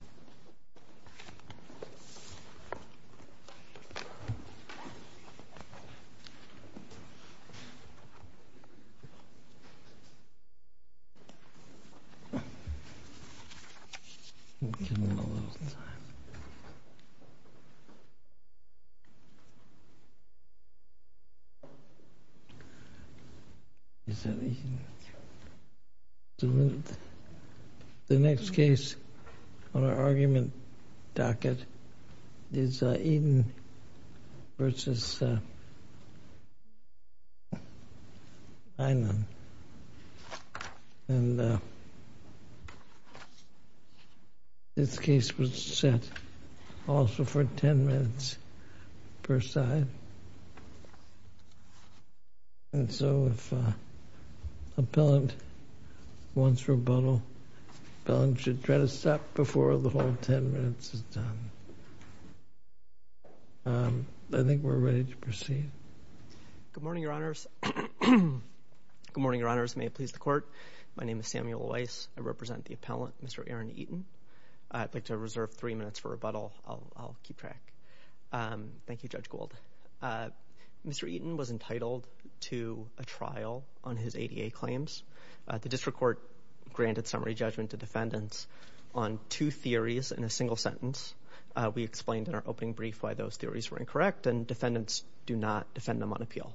Please register your name using the QR code on this screen. Our argument docket is Eden versus Aynan, and this case was set also for 10 minutes per side. And so, if the appellant wants rebuttal, the appellant should try to stop before the whole 10 minutes is done. I think we're ready to proceed. Good morning, Your Honors. Good morning, Your Honors. May it please the Court. My name is Samuel Weiss. I represent the appellant, Mr. Aaron Eaton. I'd like to reserve three minutes for rebuttal. Thank you. Thank you. Thank you. Thank you. Thank you. Thank you. Mr. Eaton was entitled to a trial on his ADA claims. The district court granted summary judgment to defendants on two theories in a single sentence. We explained in our opening brief why those theories were incorrect and defendants do not defend them on appeal.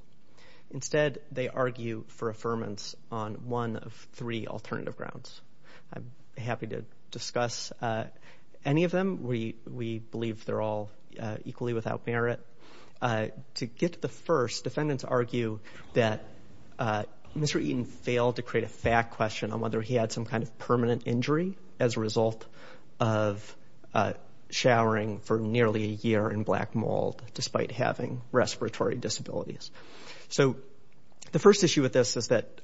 Instead, they argue for affirmance on one of three alternative grounds. I'm happy to discuss any of them. We believe they're all equally without merit. To get to the first, defendants argue that Mr. Eaton failed to create a fact question on whether he had some kind of permanent injury as a result of showering for nearly a year in black mold despite having respiratory disabilities. So the first issue with this is that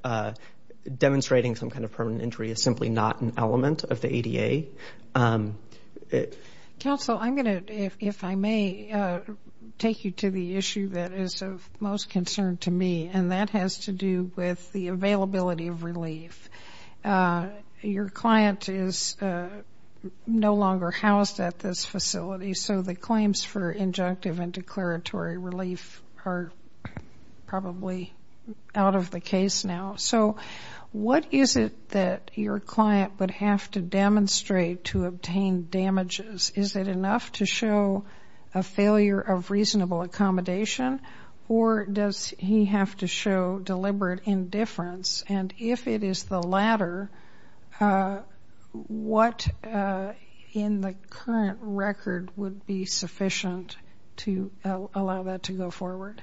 demonstrating some kind of permanent injury is simply not an element of the ADA. Counsel, I'm going to, if I may, take you to the issue that is of most concern to me and that has to do with the availability of relief. Your client is no longer housed at this facility so the claims for injunctive and declaratory relief are probably out of the case now. So what is it that your client would have to demonstrate to obtain damages? Is it enough to show a failure of reasonable accommodation or does he have to show deliberate indifference and if it is the latter, what in the current record would be sufficient to allow that to go forward?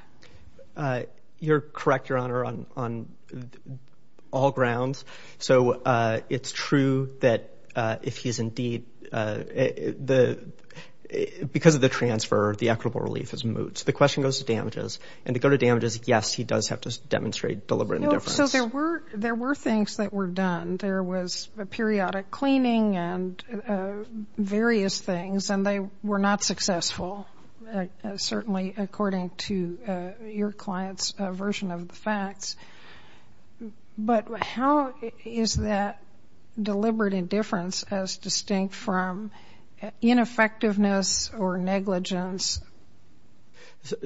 You're correct, Your Honor, on all grounds. So it's true that if he's indeed, because of the transfer, the equitable relief is moot. The question goes to damages and to go to damages, yes, he does have to demonstrate deliberate indifference. So there were things that were done. There was periodic cleaning and various things and they were not successful, certainly according to your client's version of the facts. But how is that deliberate indifference as distinct from ineffectiveness or negligence?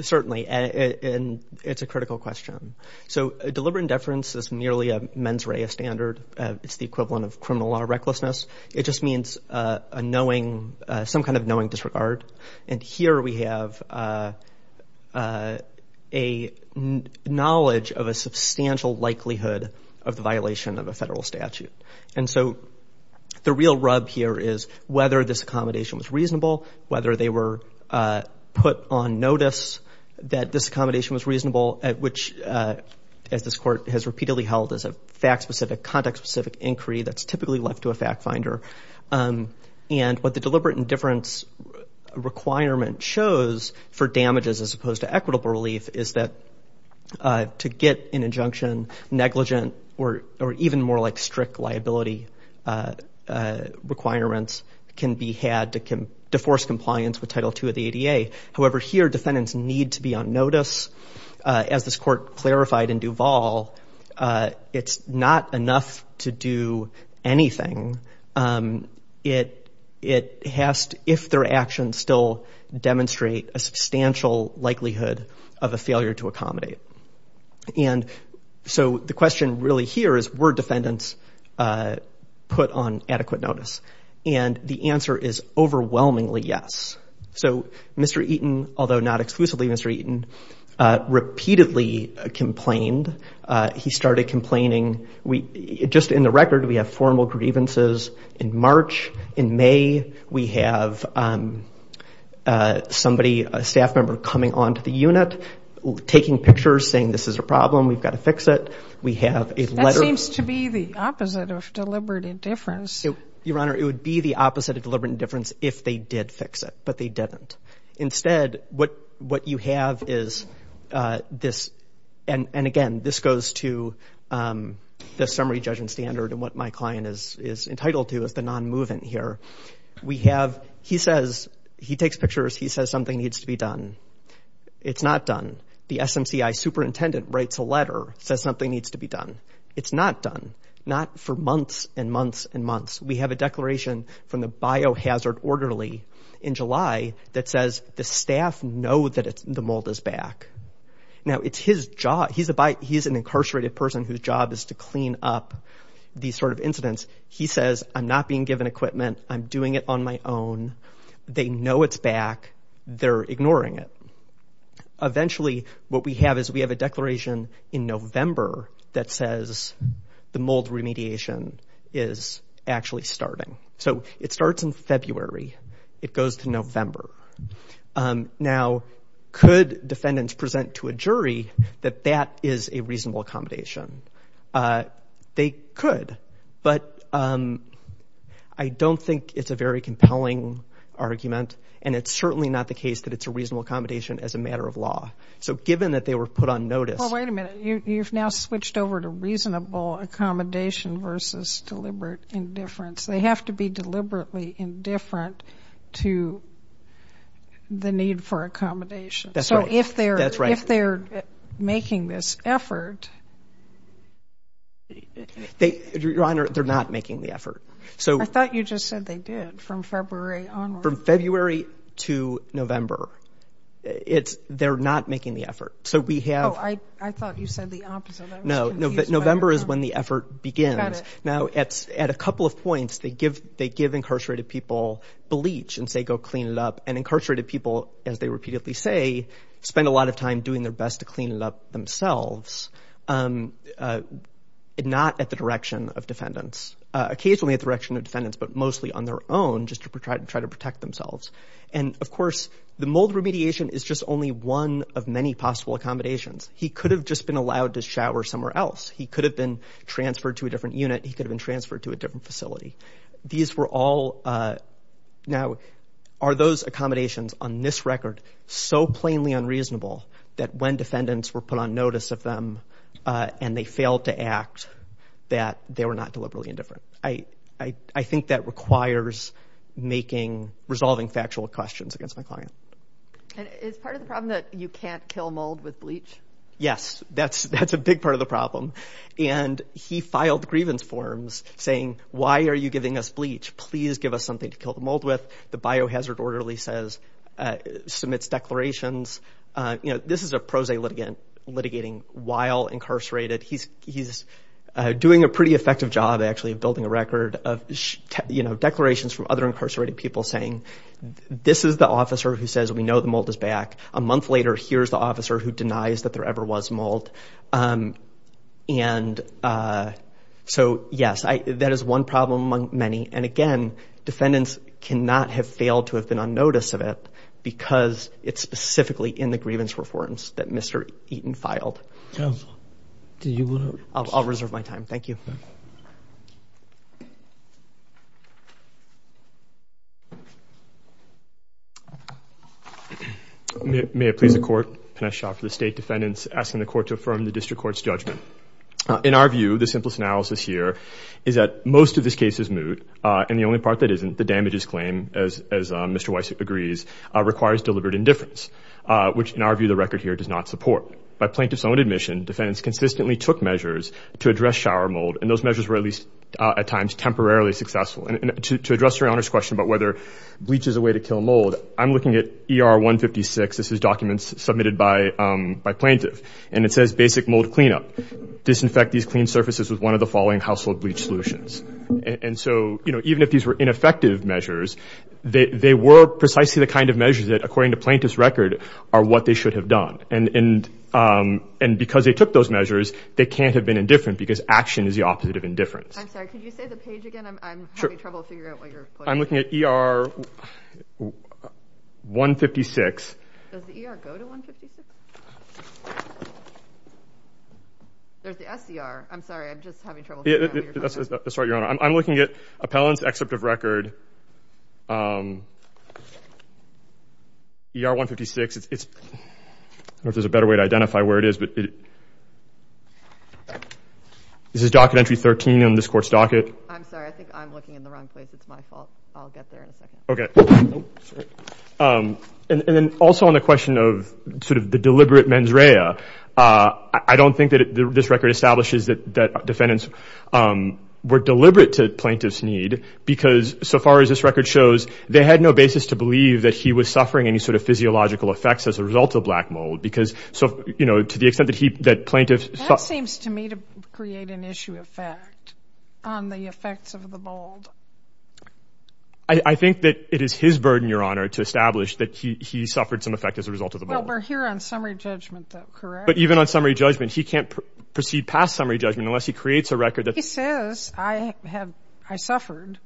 Certainly, and it's a critical question. So deliberate indifference is merely a mens rea standard. It's the equivalent of criminal law recklessness. It just means a knowing, some kind of knowing disregard. And here we have a knowledge of a substantial likelihood of the violation of a federal statute. And so the real rub here is whether this accommodation was reasonable, whether they were put on notice that this accommodation was reasonable at which, as this court has repeatedly held as a fact-specific, context-specific inquiry that's typically left to a fact finder. And what the deliberate indifference requirement shows for damages as opposed to equitable relief is that to get an injunction, negligent or even more like strict liability requirements can be had to force compliance with Title II of the ADA. However, here defendants need to be on notice. As this court clarified in Duval, it's not enough to do anything. It has to, if their actions still demonstrate a substantial likelihood of a failure to accommodate. And so the question really here is were defendants put on adequate notice? And the answer is overwhelmingly yes. So Mr. Eaton, although not exclusively Mr. Eaton, repeatedly complained. He started complaining. Just in the record, we have formal grievances in March. In May, we have somebody, a staff member coming onto the unit, taking pictures, saying this is a problem, we've got to fix it. We have a letter. That seems to be the opposite of deliberate indifference. Your Honor, it would be the opposite of deliberate indifference if they did fix it, but they didn't. Instead, what you have is this, and again, this goes to the summary judgment standard and what my client is entitled to as the non-movement here. We have, he says, he takes pictures, he says something needs to be done. It's not done. The SMCI superintendent writes a letter, says something needs to be done. It's not done. Not for months and months and months. We have a declaration from the biohazard orderly in July that says the staff know that the mold is back. Now it's his job, he's an incarcerated person whose job is to clean up these sort of incidents. He says, I'm not being given equipment. I'm doing it on my own. They know it's back. They're ignoring it. Eventually, what we have is we have a declaration in November that says the mold remediation is actually starting. So it starts in February. It goes to November. Now could defendants present to a jury that that is a reasonable accommodation? They could, but I don't think it's a very compelling argument and it's certainly not the case that it's a reasonable accommodation as a matter of law. So given that they were put on notice. Well, wait a minute. You've now switched over to reasonable accommodation versus deliberate indifference. They have to be deliberately indifferent to the need for accommodation. That's right. So if they're making this effort. Your Honor, they're not making the effort. I thought you just said they did from February onward. From February to November, they're not making the effort. So we have. Oh, I thought you said the opposite. No, November is when the effort begins. Now at a couple of points, they give incarcerated people bleach and say, go clean it up. And incarcerated people, as they repeatedly say, spend a lot of time doing their best to clean it up themselves. Not at the direction of defendants, occasionally at the direction of defendants, but mostly on their own, just to try to protect themselves. And of course, the mold remediation is just only one of many possible accommodations. He could have just been allowed to shower somewhere else. He could have been transferred to a different unit. He could have been transferred to a different facility. These were all. Now are those accommodations on this record so plainly unreasonable that when defendants were put on notice of them and they failed to act, that they were not deliberately indifferent? I think that requires making, resolving factual questions against my client. And is part of the problem that you can't kill mold with bleach? Yes, that's a big part of the problem. And he filed grievance forms saying, why are you giving us bleach? Please give us something to kill the mold with. The biohazard orderly says, submits declarations. This is a prose litigant litigating while incarcerated. He's doing a pretty effective job, actually, of building a record of declarations from other incarcerated people saying, this is the officer who says we know the mold is back. A month later, here's the officer who denies that there ever was mold. And so, yes, that is one problem among many. And again, defendants cannot have failed to have been on notice of it because it's specifically in the grievance reforms that Mr. Eaton filed. Counsel, do you want to? I'll reserve my time. Thank you. May it please the Court. Pinesh Shah for the State Defendants, asking the Court to affirm the District Court's judgment. In our view, the simplest analysis here is that most of this case is moot. And the only part that isn't, the damages claim, as Mr. Weiss agrees, requires deliberate indifference, which, in our view, the record here does not support. By plaintiff's own admission, defendants consistently took measures to address shower mold. And those measures were at least, at times, temporarily successful. And to address your Honor's question about whether bleach is a way to kill mold, I'm looking at ER 156. This is documents submitted by plaintiff. And it says basic mold cleanup. Disinfect these clean surfaces with one of the following household bleach solutions. And so, you know, even if these were ineffective measures, they were precisely the kind of And because they took those measures, they can't have been indifferent because action is the opposite of indifference. I'm sorry. Could you say the page again? I'm having trouble figuring out what you're putting. I'm looking at ER 156. Does the ER go to 156? There's the SDR. I'm sorry. I'm just having trouble figuring out what you're putting. That's all right, Your Honor. I'm looking at appellant's excerpt of record, ER 156. I don't know if there's a better way to identify where it is. This is docket entry 13 on this court's docket. I'm sorry. I think I'm looking in the wrong place. It's my fault. I'll get there in a second. Okay. And then also on the question of sort of the deliberate mens rea, I don't think that this record establishes that defendants were deliberate to plaintiff's need because so far as this record shows, they had no basis to believe that he was suffering any sort of physiological effects as a result of black mold because so, you know, to the extent that he, that plaintiff... That seems to me to create an issue of fact on the effects of the mold. I think that it is his burden, Your Honor, to establish that he suffered some effect as a result of the mold. Well, we're here on summary judgment, though, correct? But even on summary judgment, he can't proceed past summary judgment unless he creates a record that... He says, I have, I suffered.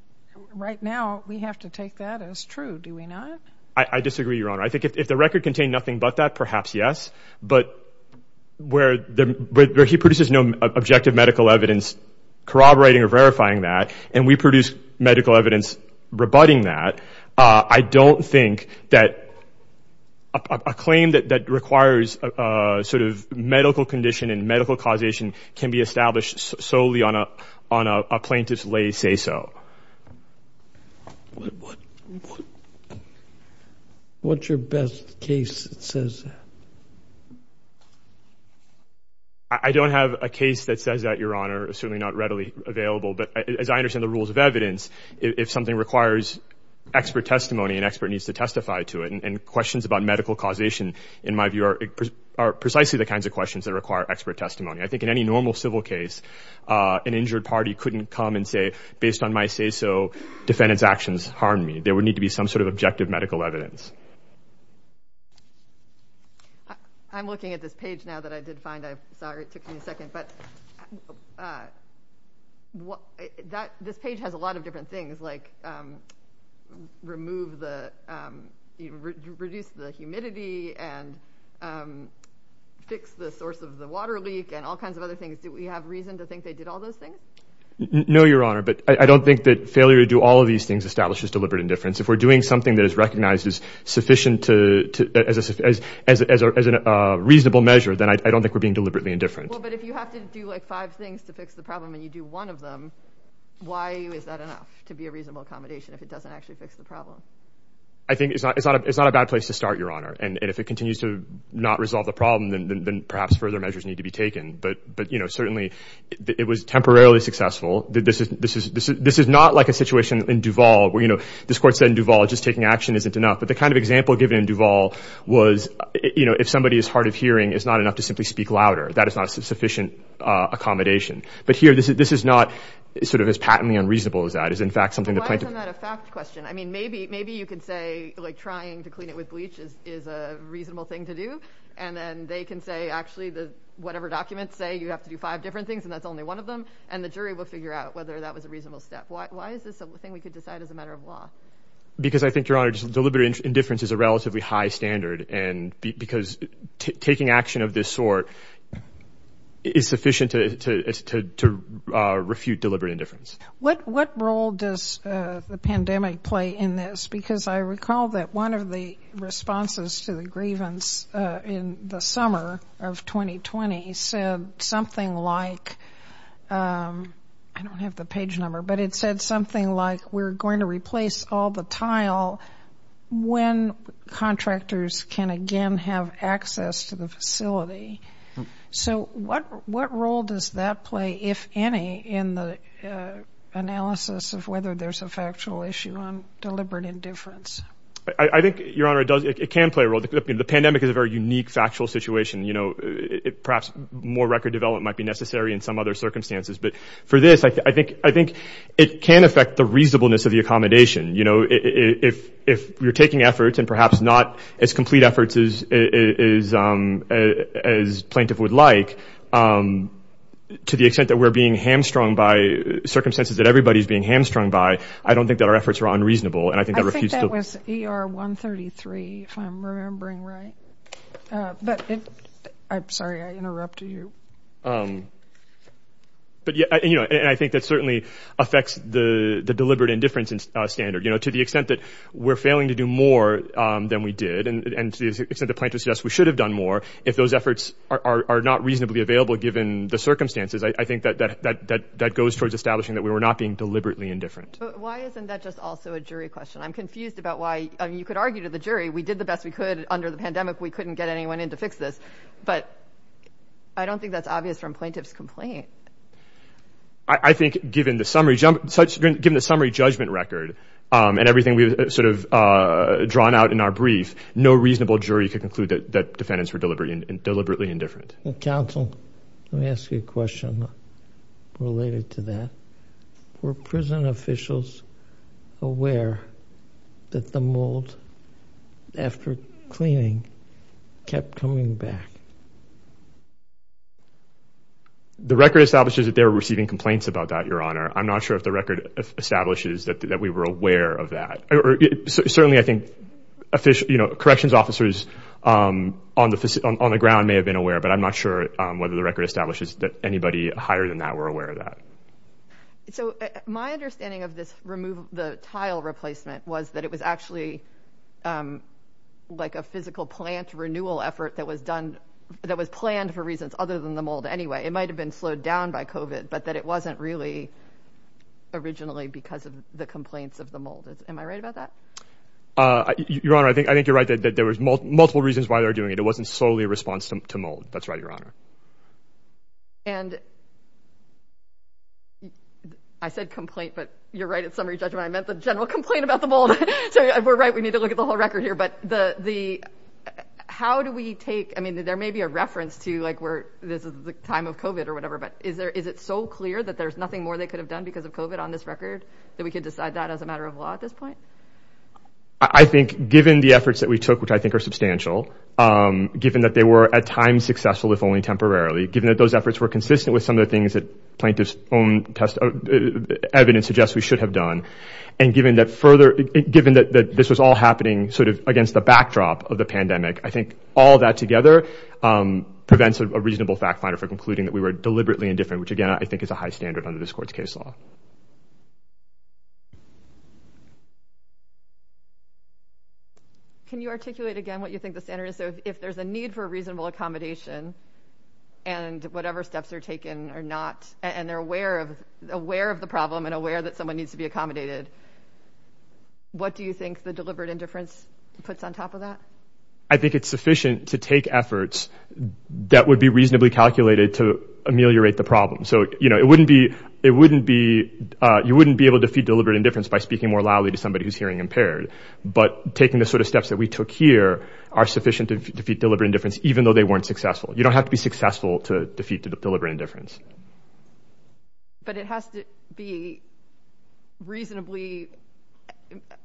Right now, we have to take that as true. Do we not? I disagree, Your Honor. I think if the record contained nothing but that, perhaps yes, but where he produces no objective medical evidence corroborating or verifying that, and we produce medical evidence rebutting that, I don't think that a claim that requires a sort of medical condition and medical causation can be established solely on a plaintiff's lay say-so. What's your best case that says that? I don't have a case that says that, Your Honor. It's certainly not readily available, but as I understand the rules of evidence, if something requires expert testimony, an expert needs to testify to it, and questions about medical causation, in my view, are precisely the kinds of questions that require expert testimony. I think in any normal civil case, an injured party couldn't come and say, based on my say-so, defendant's actions harmed me. There would need to be some sort of objective medical evidence. I'm looking at this page now that I did find. I'm sorry, it took me a second, but this page has a lot of different things, like remove the, reduce the humidity, and fix the source of the water leak, and all kinds of other things. Do we have reason to think they did all those things? No, Your Honor, but I don't think that failure to do all of these things establishes deliberate indifference. If we're doing something that is recognized as sufficient to, as a reasonable measure, then I don't think we're being deliberately indifferent. Well, but if you have to do like five things to fix the problem, and you do one of them, why is that enough to be a reasonable accommodation if it doesn't actually fix the problem? I think it's not a bad place to start, Your Honor, and if it continues to not resolve the problem, then perhaps further measures need to be taken. But, you know, certainly it was temporarily successful. This is not like a situation in Duval where, you know, this court said in Duval just taking action isn't enough, but the kind of example given in Duval was, you know, if somebody is hard of hearing, it's not enough to simply speak louder. That is not a sufficient accommodation. But here, this is not sort of as patently unreasonable as that. It's in fact something that... But why isn't that a fact question? I mean, maybe you could say, like, trying to clean it with bleach is a reasonable thing to do, and then they can say, actually, whatever documents say you have to do five different things, and that's only one of them, and the jury will figure out whether that was a reasonable step. Why is this a thing we could decide as a matter of law? Because I think, Your Honor, just deliberate indifference is a relatively high standard, because taking action of this sort is sufficient to refute deliberate indifference. What role does the pandemic play in this? Because I recall that one of the responses to the grievance in the summer of 2020 said something like, I don't have the page number, but it said something like, we're going to have access to the facility. So what role does that play, if any, in the analysis of whether there's a factual issue on deliberate indifference? I think, Your Honor, it can play a role. The pandemic is a very unique factual situation. Perhaps more record development might be necessary in some other circumstances. But for this, I think it can affect the reasonableness of the accommodation. If you're taking efforts, and perhaps not as complete efforts as plaintiff would like, to the extent that we're being hamstrung by circumstances that everybody's being hamstrung by, I don't think that our efforts are unreasonable. I think that was ER 133, if I'm remembering right. I'm sorry, I interrupted you. And I think that certainly affects the deliberate indifference standard. To the extent that we're failing to do more than we did, and to the extent that plaintiff suggests we should have done more, if those efforts are not reasonably available given the circumstances, I think that goes towards establishing that we were not being deliberately indifferent. But why isn't that just also a jury question? I'm confused about why. You could argue to the jury, we did the best we could under the pandemic. We couldn't get anyone in to fix this. But I don't think that's obvious from plaintiff's complaint. I think given the summary judgment record, and everything we've sort of drawn out in our brief, no reasonable jury could conclude that defendants were deliberately indifferent. Counsel, let me ask you a question related to that. Were prison officials aware that the mold, after cleaning, kept coming back? The record establishes that they were receiving complaints about that, Your Honor. I'm not sure if the record establishes that we were aware of that. Certainly I think corrections officers on the ground may have been aware, but I'm not sure whether the record establishes that anybody higher than that were aware of that. So my understanding of this tile replacement was that it was actually like a physical plant renewal effort that was planned for reasons other than the mold anyway. It might have been slowed down by COVID, but that it wasn't really originally because of the complaints of the mold. Am I right about that? Your Honor, I think you're right that there was multiple reasons why they were doing it. It wasn't solely a response to mold. That's right, Your Honor. And I said complaint, but you're right at summary judgment. I meant the general complaint about the mold. So we're right. We need to look at the whole record here, but how do we take, I mean, there may be a reference to like where this is the time of COVID or whatever, but is it so clear that there's nothing more they could have done because of COVID on this record that we could decide that as a matter of law at this point? I think given the efforts that we took, which I think are substantial, given that they were at times successful, if only temporarily, given that those efforts were consistent with some of the things that plaintiff's own evidence suggests we should have done, and given that further, given that this was all happening sort of against the backdrop of the pandemic, I think all that together prevents a reasonable fact finder for concluding that we were deliberately indifferent, which, again, I think is a high standard under this court's case law. Thank you. Can you articulate again what you think the standard is? So if there's a need for reasonable accommodation and whatever steps are taken are not, and they're aware of the problem and aware that someone needs to be accommodated, what do you think the deliberate indifference puts on top of that? I think it's sufficient to take efforts that would be reasonably calculated to ameliorate the problem. So, you know, it wouldn't be you wouldn't be able to defeat deliberate indifference by speaking more loudly to somebody who's hearing impaired. But taking the sort of steps that we took here are sufficient to defeat deliberate indifference, even though they weren't successful. You don't have to be successful to defeat deliberate indifference. But it has to be reasonably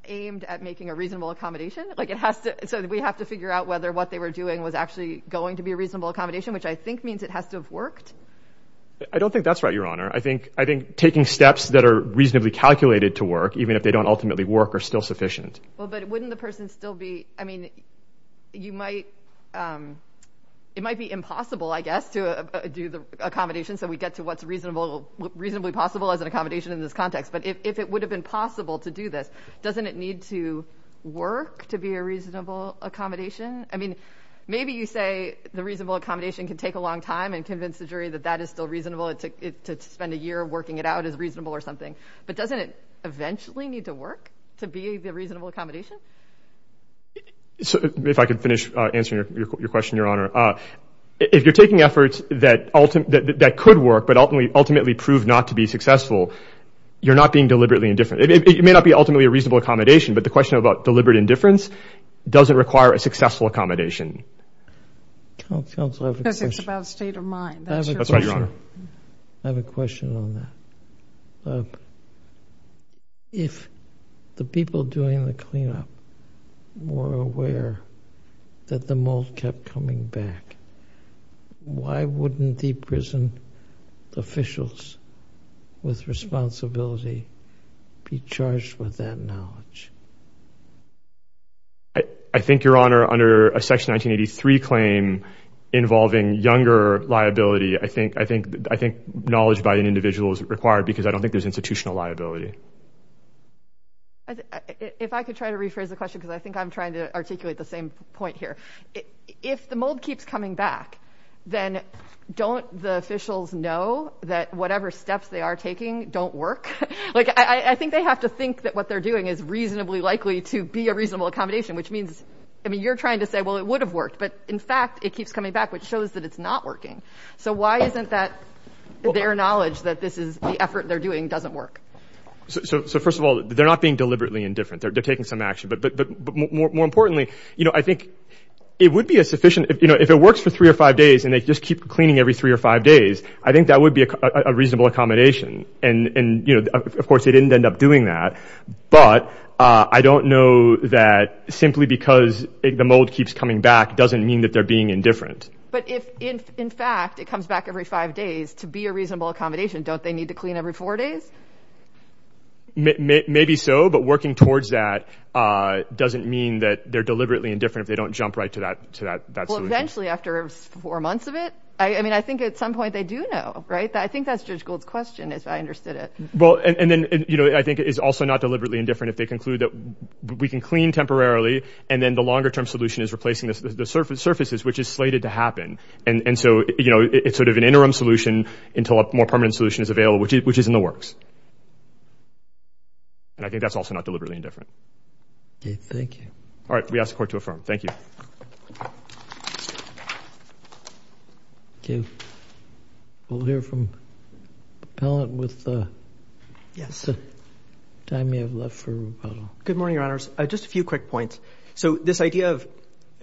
aimed at making a reasonable accommodation, like it has to. So we have to figure out whether what they were doing was actually going to be a reasonable accommodation, which I think means it has to have worked. I don't think that's right, Your Honor. I think I think taking steps that are reasonably calculated to work, even if they don't ultimately work, are still sufficient. Well, but wouldn't the person still be I mean, you might it might be impossible, I guess, to do the accommodation. So we get to what's reasonable, reasonably possible as an accommodation in this context. But if it would have been possible to do this, doesn't it need to work to be a reasonable accommodation? I mean, maybe you say the reasonable accommodation can take a long time and convince the jury that that is still reasonable. It took it to spend a year working it out as reasonable or something. But doesn't it eventually need to work to be a reasonable accommodation? So if I could finish answering your question, Your Honor, if you're taking efforts that ultimate that could work, but ultimately ultimately prove not to be successful, you're not being deliberately indifferent. It may not be ultimately a reasonable accommodation, but the question about deliberate indifference doesn't require a successful accommodation. Counsel, I have a question. Because it's about state of mind. That's right, Your Honor. I have a question on that. If the people doing the cleanup were aware that the mold kept coming back, why wouldn't the prison officials with responsibility be charged with that knowledge? I think, Your Honor, under a Section 1983 claim involving younger liability, I think knowledge by an individual is required because I don't think there's institutional liability. If I could try to rephrase the question, because I think I'm trying to articulate the same point here. If the mold keeps coming back, then don't the officials know that whatever steps they are taking don't work? I think they have to think that what they're doing is reasonably likely to be a reasonable accommodation, which means you're trying to say, well, it would have worked. But, in fact, it keeps coming back, which shows that it's not working. So why isn't that their knowledge that this is the effort they're doing doesn't work? So, first of all, they're not being deliberately indifferent. They're taking some action. But more importantly, I think it would be a sufficient – if it works for three or five days and they just keep cleaning every three or five days, I think that would be a reasonable accommodation. And, of course, they didn't end up doing that. But I don't know that simply because the mold keeps coming back doesn't mean that they're being indifferent. But if, in fact, it comes back every five days to be a reasonable accommodation, don't they need to clean every four days? Maybe so. But working towards that doesn't mean that they're deliberately indifferent if they don't jump right to that solution. Well, eventually, after four months of it, I mean, I think at some point they do know, right? I think that's Judge Gould's question, if I understood it. Well, and then, you know, I think it's also not deliberately indifferent if they conclude that we can clean temporarily and then the longer-term solution is replacing the surfaces, which is slated to happen. And so, you know, it's sort of an interim solution until a more permanent solution is available, which is in the works. And I think that's also not deliberately indifferent. Okay, thank you. All right, we ask the Court to affirm. Thank you. Okay, we'll hear from the appellant with the time we have left for rebuttal. Good morning, Your Honors. Just a few quick points. So this idea of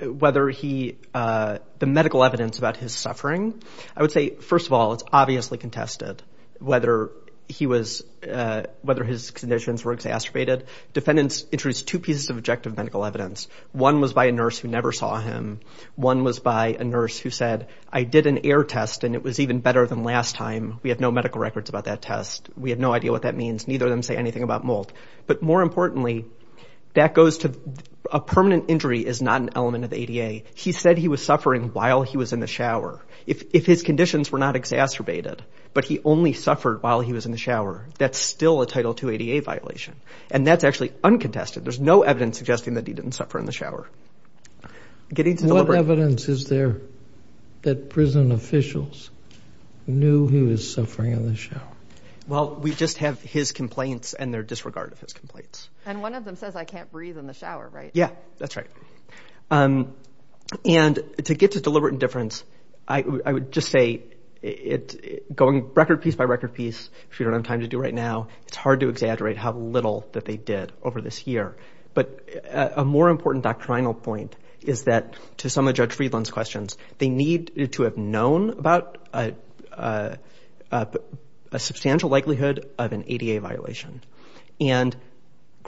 whether he, the medical evidence about his suffering, I would say, first of all, it's obviously contested, whether he was, whether his conditions were exacerbated. Defendants introduced two pieces of objective medical evidence. One was by a nurse who never saw him. One was by a nurse who said, I did an air test and it was even better than last time. We have no medical records about that test. We have no idea what that means. Neither of them say anything about mold. But more importantly, that goes to a permanent injury is not an element of ADA. He said he was suffering while he was in the shower. If his conditions were not exacerbated, but he only suffered while he was in the shower, that's still a Title II ADA violation. And that's actually uncontested. There's no evidence suggesting that he didn't suffer in the shower. What evidence is there that prison officials knew he was suffering in the shower? Well, we just have his complaints and their disregard of his complaints. And one of them says, I can't breathe in the shower, right? Yeah, that's right. And to get to deliberate indifference, I would just say, going record piece by record piece, if you don't have time to do right now, it's hard to exaggerate how little that they did over this year. But a more important doctrinal point is that to some of Judge Friedland's questions, they need to have known about a substantial likelihood of an ADA violation. And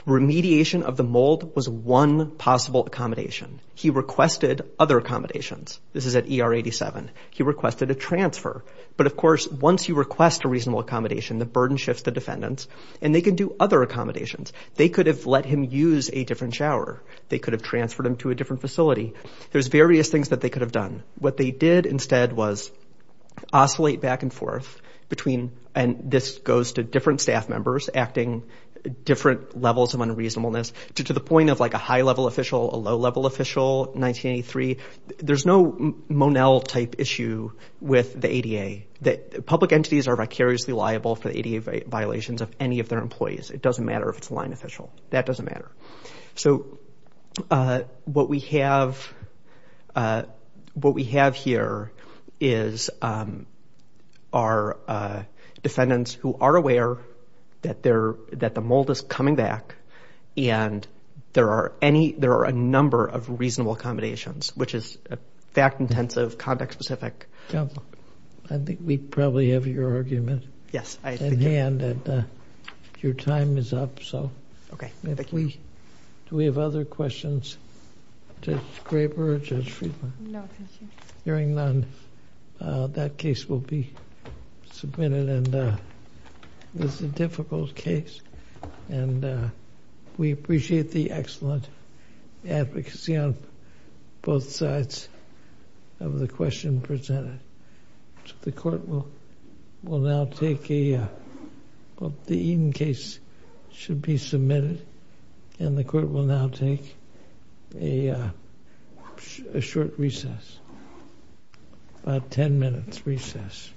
remediation of the mold was one possible accommodation. He requested other accommodations. This is at ER 87. He requested a transfer. But, of course, once you request a reasonable accommodation, the burden shifts to defendants, and they can do other accommodations. They could have let him use a different shower. They could have transferred him to a different facility. There's various things that they could have done. What they did instead was oscillate back and forth between, and this goes to different staff members acting different levels of unreasonableness, to the point of, like, a high-level official, a low-level official, 1983. There's no Monell-type issue with the ADA. Public entities are vicariously liable for the ADA violations of any of their employees. It doesn't matter if it's a line official. That doesn't matter. So what we have here is our defendants who are aware that the mold is coming back and there are a number of reasonable accommodations, which is fact-intensive, context-specific. I think we probably have your argument in hand. Your time is up. Okay. Thank you. Do we have other questions? Judge Graber or Judge Friedman? No, thank you. Hearing none, that case will be submitted. This is a difficult case, and we appreciate the excellent advocacy on both sides of the question presented. The court will now take a—well, the Eden case should be submitted, and the court will now take a short recess, about a 10-minute recess.